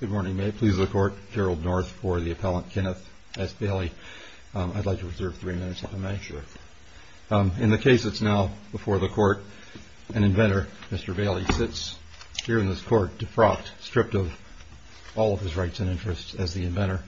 Good morning. May it please the Court, Gerald North for the appellant Kenneth S. Bailey. I'd like to reserve three minutes if I may. Sure. In the case that's now before the Court, an inventor, Mr. Bailey, sits here in this Court defrocked, stripped of all of his rights and interests as the inventor,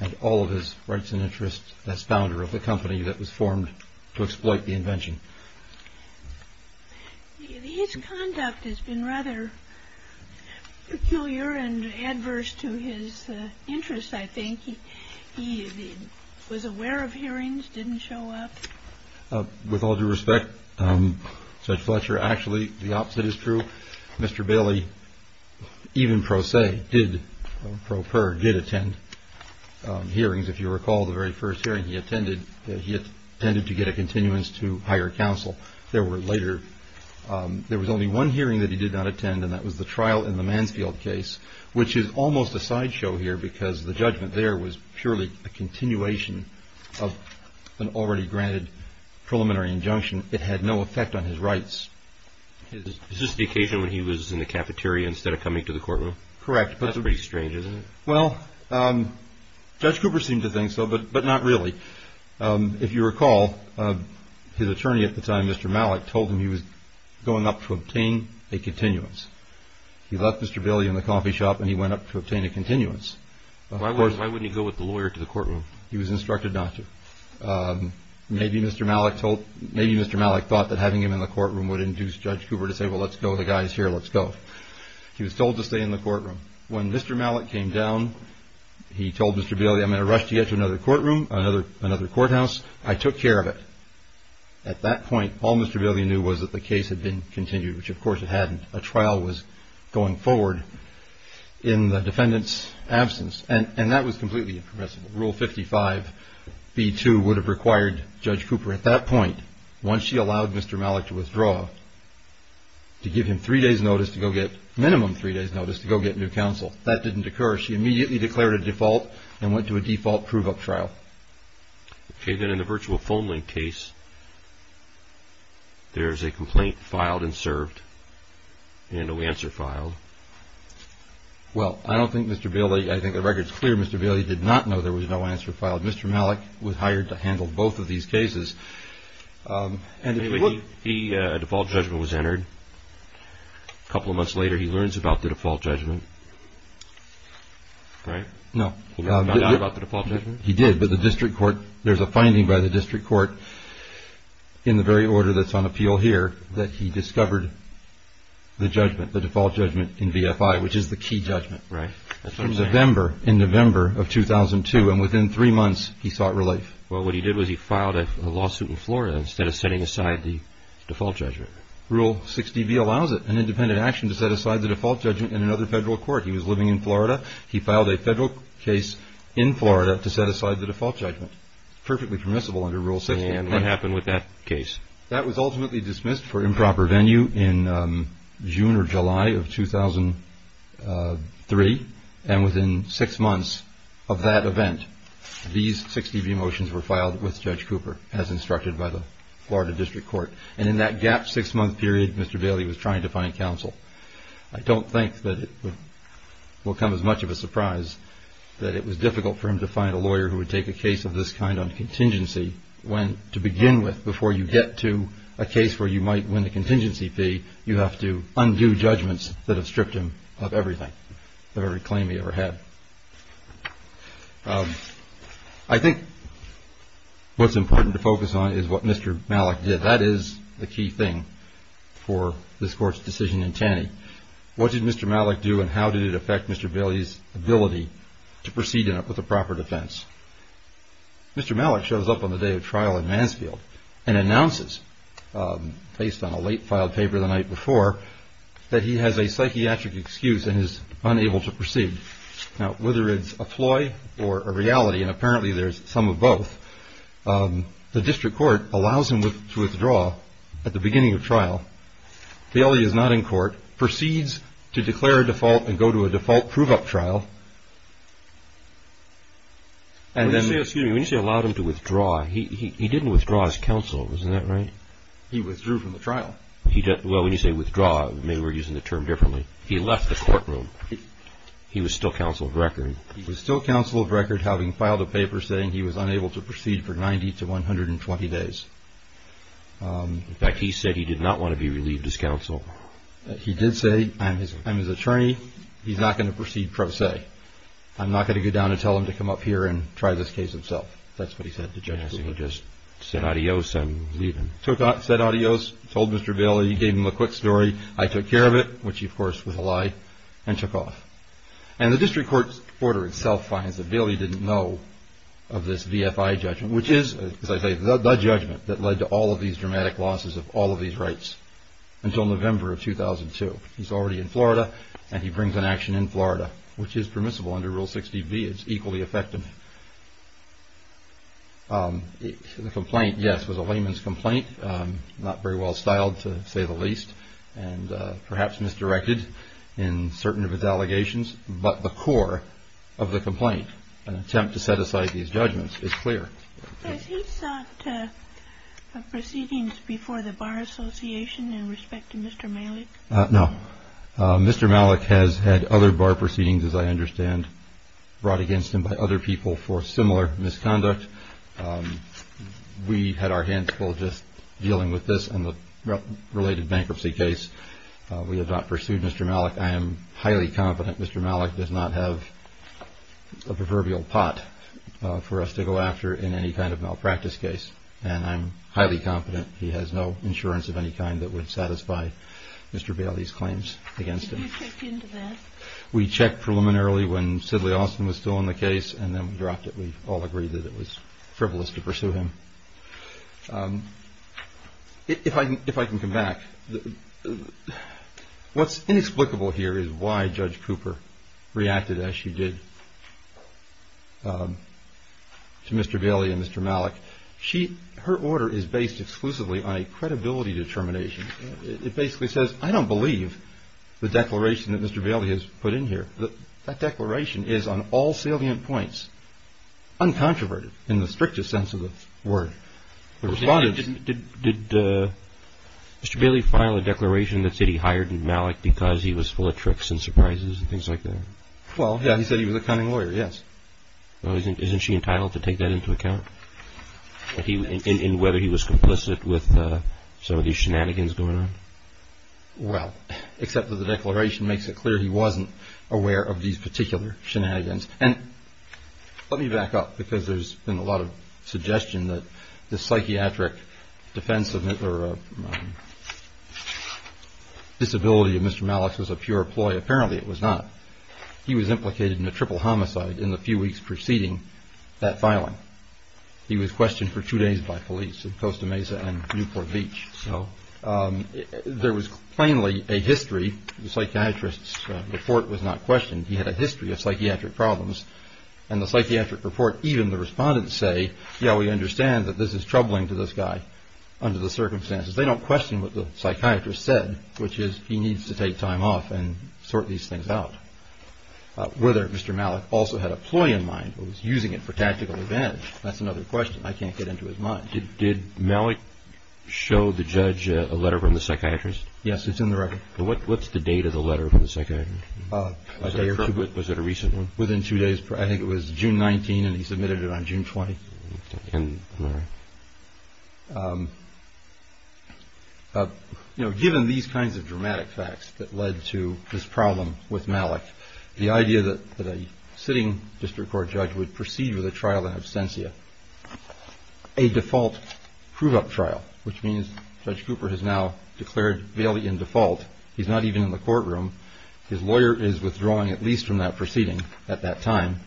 and all of his rights and interests as founder of the company that was formed to exploit the invention. His conduct has been rather peculiar and adverse to his interests, I think. He was aware of hearings, didn't show up. With all due respect, Judge Fletcher, actually the opposite is true. Mr. Bailey, even pro se, did, pro per, did attend hearings. If you recall the very first hearing he attended, he attended to get a continuance to higher counsel. There were later, there was only one hearing that he did not attend, and that was the trial in the Mansfield case, which is almost a sideshow here because the judgment there was purely a continuation of an already granted preliminary injunction. It had no effect on his rights. Is this the occasion when he was in the cafeteria instead of coming to the courtroom? Correct. That's pretty strange, isn't it? Well, Judge Cooper seemed to think so, but not really. If you recall, his attorney at the time, Mr. Malick, told him he was going up to obtain a continuance. He left Mr. Bailey in the coffee shop and he went up to obtain a continuance. Why wouldn't he go with the lawyer to the courtroom? He was instructed not to. Maybe Mr. Malick thought that having him in the courtroom would induce Judge Cooper to say, well, let's go, the guy's here, let's go. He was told to stay in the courtroom. When Mr. Malick came down, he told Mr. Bailey, I'm going to rush to get to another courtroom, another courthouse. I took care of it. At that point, all Mr. Bailey knew was that the case had been continued, which of course it hadn't. A trial was going forward in the defendant's absence, and that was completely irrepressible. Rule 55b-2 would have required Judge Cooper at that point, once she allowed Mr. Malick to withdraw, to give him three days' notice to go get, minimum three days' notice to go get new counsel. That didn't occur. She immediately declared a default and went to a default prove-up trial. Okay, then in the virtual phone link case, there's a complaint filed and served and no answer filed. Well, I don't think Mr. Bailey, I think the record's clear, Mr. Bailey did not know there was no answer filed. Mr. Malick was hired to handle both of these cases. A default judgment was entered. A couple of months later, he learns about the default judgment. Right? No. He found out about the default judgment? He did, but the district court, there's a finding by the district court in the very order that's on appeal here that he discovered the judgment, the default judgment in VFI, which is the key judgment. Right. In November of 2002, and within three months, he sought relief. Well, what he did was he filed a lawsuit in Florida instead of setting aside the default judgment. Rule 60B allows it, an independent action to set aside the default judgment in another federal court. He was living in Florida. He filed a federal case in Florida to set aside the default judgment, perfectly permissible under Rule 60. And what happened with that case? That was ultimately dismissed for improper venue in June or July of 2003, and within six months of that event, these 60B motions were filed with Judge Cooper, as instructed by the Florida district court. And in that gap six-month period, Mr. Bailey was trying to find counsel. I don't think that it will come as much of a surprise that it was difficult for him to find a lawyer who would take a case of this kind on contingency when, to begin with, before you get to a case where you might win the contingency fee, you have to undo judgments that have stripped him of everything. The very claim he ever had. I think what's important to focus on is what Mr. Malik did. That is the key thing for this Court's decision in Taney. What did Mr. Malik do, and how did it affect Mr. Bailey's ability to proceed with a proper defense? Mr. Malik shows up on the day of trial in Mansfield and announces, based on a late-filed paper the night before, that he has a psychiatric excuse and is unable to proceed. Now, whether it's a ploy or a reality, and apparently there's some of both, the district court allows him to withdraw at the beginning of trial. Bailey is not in court, proceeds to declare a default and go to a default prove-up trial. When you say allowed him to withdraw, he didn't withdraw as counsel, isn't that right? He withdrew from the trial. Well, when you say withdraw, maybe we're using the term differently. He left the courtroom. He was still counsel of record. He was still counsel of record, having filed a paper saying he was unable to proceed for 90 to 120 days. In fact, he said he did not want to be relieved as counsel. He did say, I'm his attorney, he's not going to proceed per se. I'm not going to go down and tell him to come up here and try this case himself. That's what he said to Judge Woodward. So he just said adios and leave him. Said adios, told Mr. Bailey, gave him a quick story. I took care of it, which of course was a lie, and took off. And the district court's order itself finds that Bailey didn't know of this VFI judgment, which is, as I say, the judgment that led to all of these dramatic losses of all of these rights until November of 2002. He's already in Florida and he brings an action in Florida, which is permissible under Rule 60B. It's equally effective. The complaint, yes, was a layman's complaint, not very well styled, to say the least, and perhaps misdirected in certain of his allegations. But the core of the complaint, an attempt to set aside these judgments, is clear. Has he sought proceedings before the Bar Association in respect to Mr. Malik? No. Mr. Malik has had other bar proceedings, as I understand, brought against him by other people for similar misconduct. We had our hands full just dealing with this and the related bankruptcy case. We have not pursued Mr. Malik. I am highly confident Mr. Malik does not have a proverbial pot for us to go after in any kind of malpractice case, and I'm highly confident he has no insurance of any kind that would satisfy Mr. Bailey's claims against him. Did you check into that? We checked preliminarily when Sidley Austin was still in the case and then we dropped it. We all agreed that it was frivolous to pursue him. If I can come back, what's inexplicable here is why Judge Cooper reacted as she did to Mr. Bailey and Mr. Malik. Her order is based exclusively on a credibility determination. It basically says, I don't believe the declaration that Mr. Bailey has put in here. That declaration is, on all salient points, uncontroverted in the strictest sense of the word. Did Mr. Bailey file a declaration that said he hired Malik because he was full of tricks and surprises and things like that? Well, yeah, he said he was a cunning lawyer, yes. Well, isn't she entitled to take that into account? In whether he was complicit with some of these shenanigans going on? Well, except that the declaration makes it clear he wasn't aware of these particular shenanigans. And let me back up because there's been a lot of suggestion that the psychiatric defense or disability of Mr. Malik was a pure ploy. Apparently it was not. He was implicated in a triple homicide in the few weeks preceding that filing. He was questioned for two days by police in Costa Mesa and Newport Beach. So there was plainly a history. The psychiatrist's report was not questioned. He had a history of psychiatric problems and the psychiatric report. Even the respondents say, yeah, we understand that this is troubling to this guy under the circumstances. They don't question what the psychiatrist said, which is he needs to take time off and sort these things out. Whether Mr. Malik also had a ploy in mind was using it for tactical advantage. That's another question I can't get into as much. Did Malik show the judge a letter from the psychiatrist? Yes, it's in the record. What's the date of the letter from the psychiatrist? Was it a recent one? Within two days. I think it was June 19 and he submitted it on June 20. You know, given these kinds of dramatic facts that led to this problem with Malik, the idea that the sitting district court judge would proceed with a trial in absentia, a default prove up trial, which means Judge Cooper has now declared Bailey in default. He's not even in the courtroom. His lawyer is withdrawing at least from that proceeding at that time.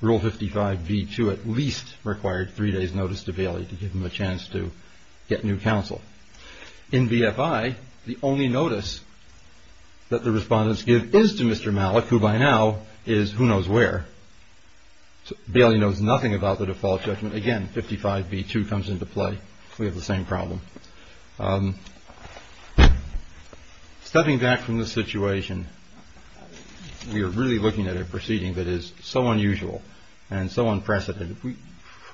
Rule 55B2 at least required three days notice to Bailey to give him a chance to get new counsel. In BFI, the only notice that the respondents give is to Mr. Malik, who by now is who knows where. Bailey knows nothing about the default judgment. Again, 55B2 comes into play. We have the same problem. Stepping back from the situation, we are really looking at a proceeding that is so unusual and so unprecedented.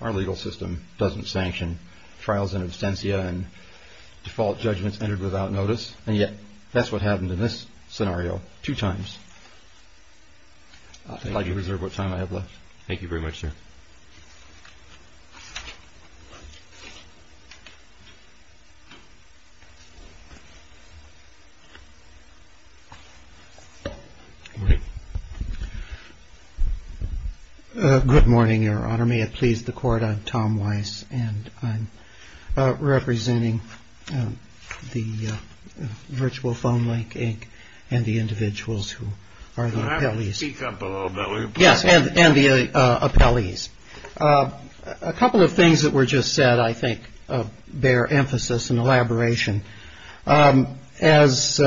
Our legal system doesn't sanction trials in absentia and default judgments entered without notice, and yet that's what happened in this scenario two times. I'd like to reserve what time I have left. Thank you very much, sir. Good morning, Your Honor. May it please the court. I'm Tom Weiss, and I'm representing the virtual phone link and the individuals who are the appellees. Yes, and the appellees. A couple of things that were just said I think bear emphasis and elaboration. As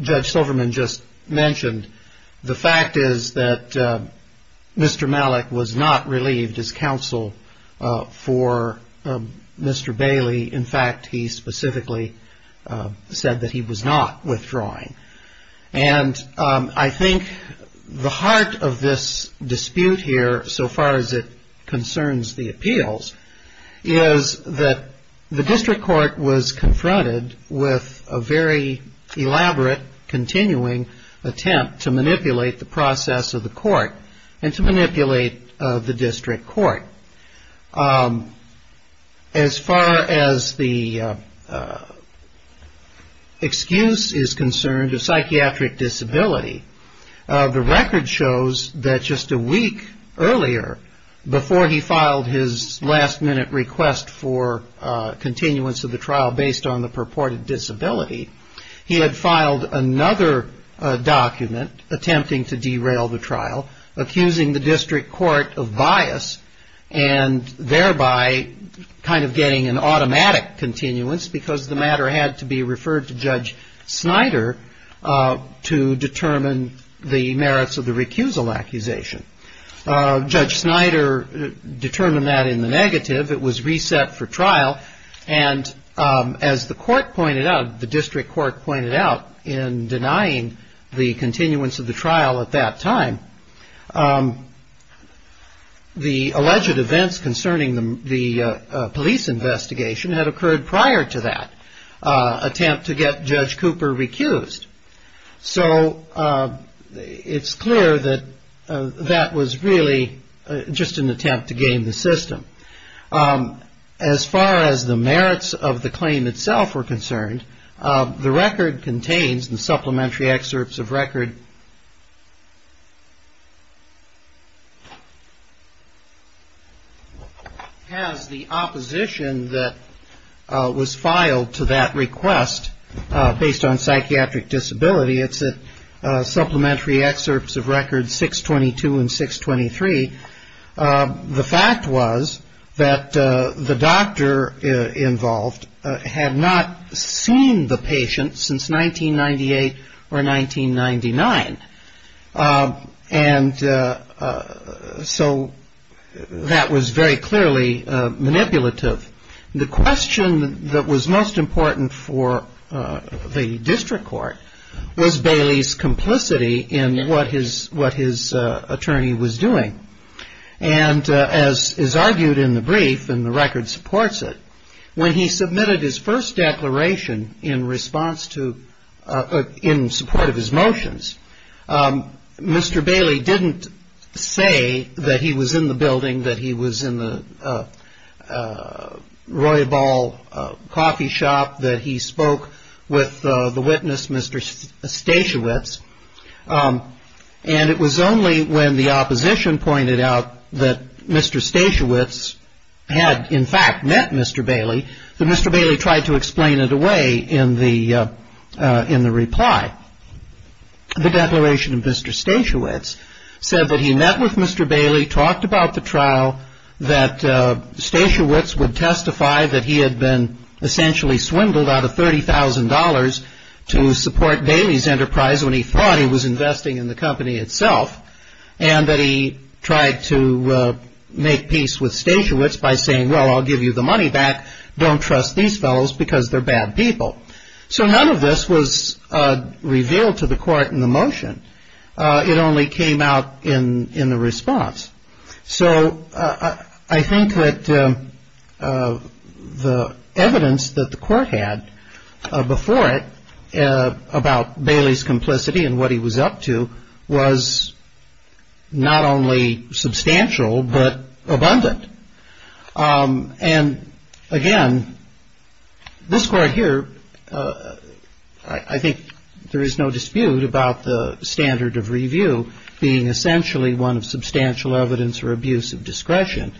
Judge Silverman just mentioned, the fact is that Mr. Malik was not relieved his counsel for Mr. Bailey. In fact, he specifically said that he was not withdrawing. And I think the heart of this dispute here, so far as it concerns the appeals, is that the district court was confronted with a very elaborate, continuing attempt to manipulate the process of the court and to manipulate the district court. As far as the excuse is concerned of psychiatric disability, the record shows that just a week earlier, before he filed his last-minute request for continuance of the trial based on the purported disability, he had filed another document attempting to derail the trial, accusing the district court of bias and thereby kind of getting an automatic continuance because the matter had to be referred to Judge Snyder to determine the merits of the recusal accusation. Judge Snyder determined that in the negative. It was reset for trial. And as the court pointed out, the district court pointed out in denying the continuance of the trial at that time, the alleged events concerning the police investigation had occurred prior to that attempt to get Judge Cooper recused. So it's clear that that was really just an attempt to game the system. As far as the merits of the claim itself were concerned, the record contains the supplementary excerpts of record as the opposition that was filed to that request based on psychiatric disability. It's a supplementary excerpts of record 622 and 623. The fact was that the doctor involved had not seen the patient since 1998 or 1999. And so that was very clearly manipulative. The question that was most important for the district court was Bailey's complicity in what his attorney was doing. And as is argued in the brief and the record supports it, when he submitted his first declaration in response to in support of his motions, Mr. Bailey didn't say that he was in the building, that he was in the Roybal coffee shop, that he spoke with the witness, Mr. Stashiewicz. And it was only when the opposition pointed out that Mr. Stashiewicz had, in fact, met Mr. Bailey, that Mr. Bailey tried to explain it away in the reply. The declaration of Mr. Stashiewicz said that he met with Mr. Bailey, talked about the trial, that Stashiewicz would testify that he had been essentially swindled out of $30,000 to support Bailey's enterprise when he thought he was investing in the company itself, and that he tried to make peace with Stashiewicz by saying, well, I'll give you the money back. Don't trust these fellows because they're bad people. So none of this was revealed to the court in the motion. It only came out in the response. So I think that the evidence that the court had before it about Bailey's complicity and what he was up to was not only substantial but abundant. And, again, this court here, I think there is no dispute about the standard of review being essentially one of substantial evidence or abuse of discretion.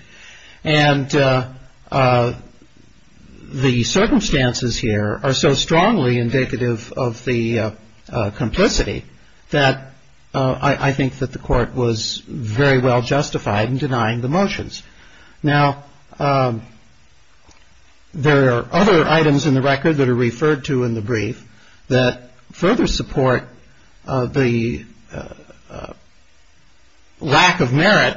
And the circumstances here are so strongly indicative of the complicity that I think that the court was very well justified in denying the motions. Now, there are other items in the record that are referred to in the brief that further support the lack of merit,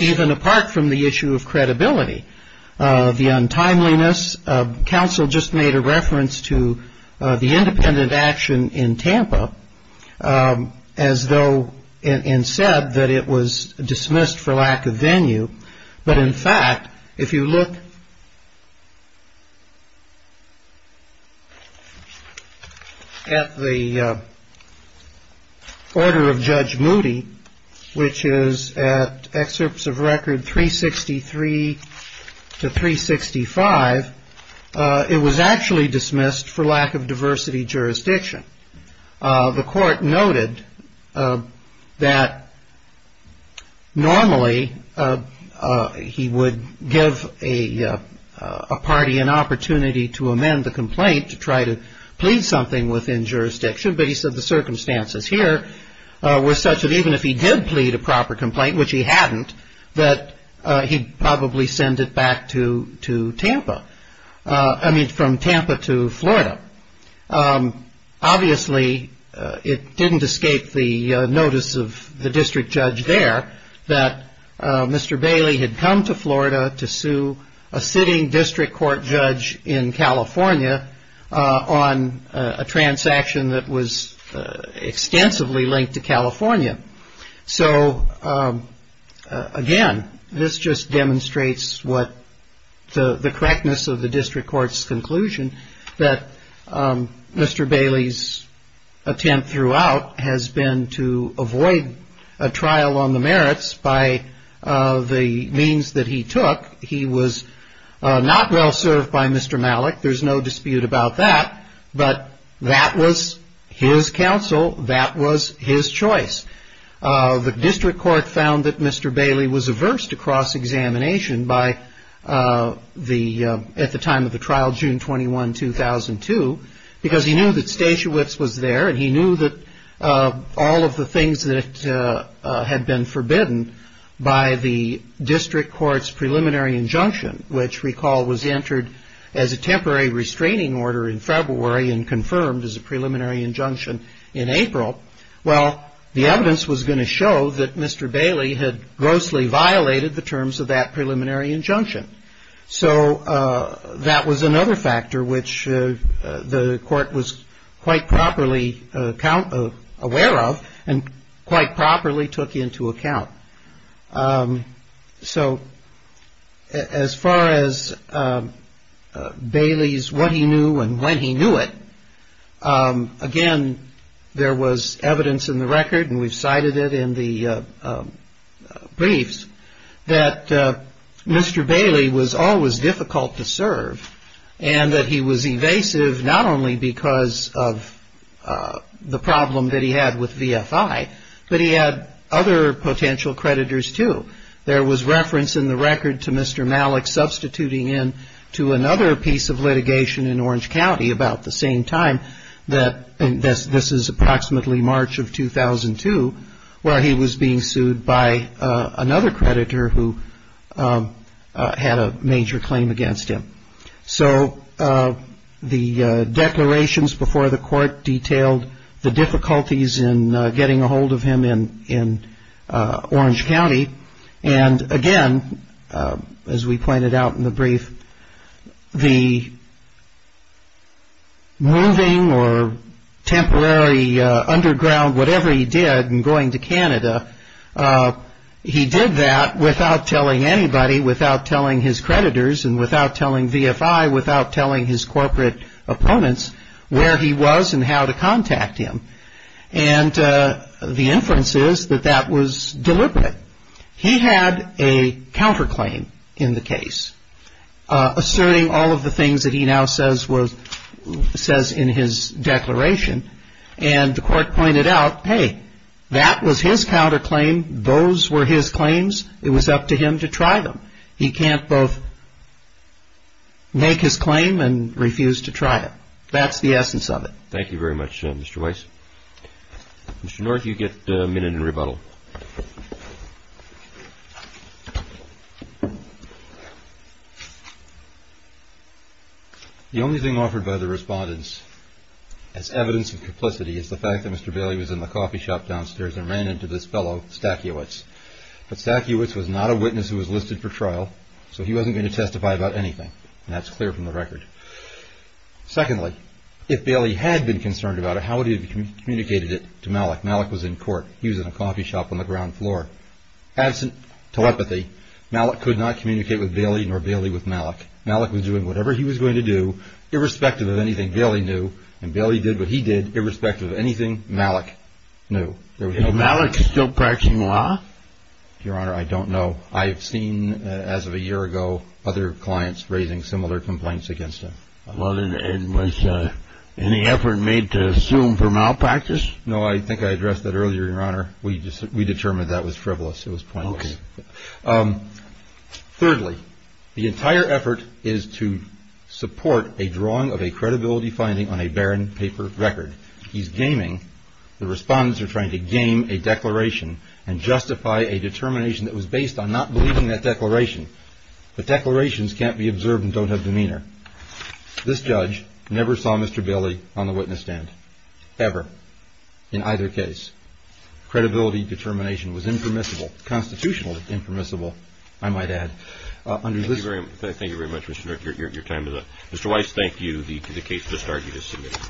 even apart from the issue of credibility. The untimeliness. Counsel just made a reference to the independent action in Tampa and said that it was dismissed for lack of venue. But, in fact, if you look at the order of Judge Moody, which is at excerpts of record 363 to 365, it was actually dismissed for lack of diversity jurisdiction. The court noted that normally he would give a party an opportunity to amend the complaint to try to plead something within jurisdiction, but he said the circumstances here were such that even if he did plead a proper complaint, which he hadn't, that he'd probably send it back to Tampa, I mean from Tampa to Florida. Obviously, it didn't escape the notice of the district judge there that Mr. Bailey had come to Florida to sue a sitting district court judge in California on a transaction that was extensively linked to California. So, again, this just demonstrates the correctness of the district court's conclusion that Mr. Bailey's attempt throughout has been to avoid a trial on the merits by the means that he took. He was not well served by Mr. Malik. There's no dispute about that, but that was his counsel. That was his choice. The district court found that Mr. Bailey was aversed to cross-examination at the time of the trial, June 21, 2002, because he knew that Stasiewicz was there, and he knew that all of the things that had been forbidden by the district court's preliminary injunction, which, recall, was entered as a temporary restraining order in February and confirmed as a preliminary injunction in April. Well, the evidence was going to show that Mr. Bailey had grossly violated the terms of that preliminary injunction. So that was another factor which the court was quite properly aware of and quite properly took into account. So as far as Bailey's what he knew and when he knew it, again, there was evidence in the record, and we've cited it in the briefs, that Mr. Bailey was always difficult to serve and that he was evasive not only because of the problem that he had with VFI, but he had other potential creditors, too. There was reference in the record to Mr. Malik substituting in to another piece of litigation in Orange County about the same time, and this is approximately March of 2002, where he was being sued by another creditor who had a major claim against him. So the declarations before the court detailed the difficulties in getting a hold of him in Orange County, and again, as we pointed out in the brief, the moving or temporary underground, whatever he did in going to Canada, he did that without telling anybody, without telling his creditors and without telling VFI, without telling his corporate opponents where he was and how to contact him, and the inference is that that was deliberate. He had a counterclaim in the case, asserting all of the things that he now says in his declaration, and the court pointed out, hey, that was his counterclaim, those were his claims, it was up to him to try them. He can't both make his claim and refuse to try it. That's the essence of it. Thank you very much, Mr. Weiss. Mr. North, you get a minute in rebuttal. The only thing offered by the respondents as evidence of complicity is the fact that Mr. Bailey was in the coffee shop downstairs and ran into this fellow, Stackiewicz, but Stackiewicz was not a witness who was listed for trial, so he wasn't going to testify about anything, and that's clear from the record. Secondly, if Bailey had been concerned about it, how would he have communicated it to Malick? Malick was in court, he was in a coffee shop on the ground floor. Absent telepathy, Malick could not communicate with Bailey nor Bailey with Malick. Malick was doing whatever he was going to do, irrespective of anything Bailey knew, and Bailey did what he did, irrespective of anything Malick knew. Is Malick still practicing law? Your Honor, I don't know. I've seen, as of a year ago, other clients raising similar complaints against him. Was any effort made to sue him for malpractice? No, I think I addressed that earlier, Your Honor. We determined that was frivolous. It was pointless. Thirdly, the entire effort is to support a drawing of a credibility finding on a barren paper record. He's gaming, the respondents are trying to game a declaration and justify a determination that was based on not believing that declaration. But declarations can't be observed and don't have demeanor. This judge never saw Mr. Bailey on the witness stand, ever, in either case. Credibility determination was impermissible, constitutional impermissible, I might add. Thank you very much, Mr. Dirk, your time is up. Mr. Weiss, thank you. The case has started as submitted.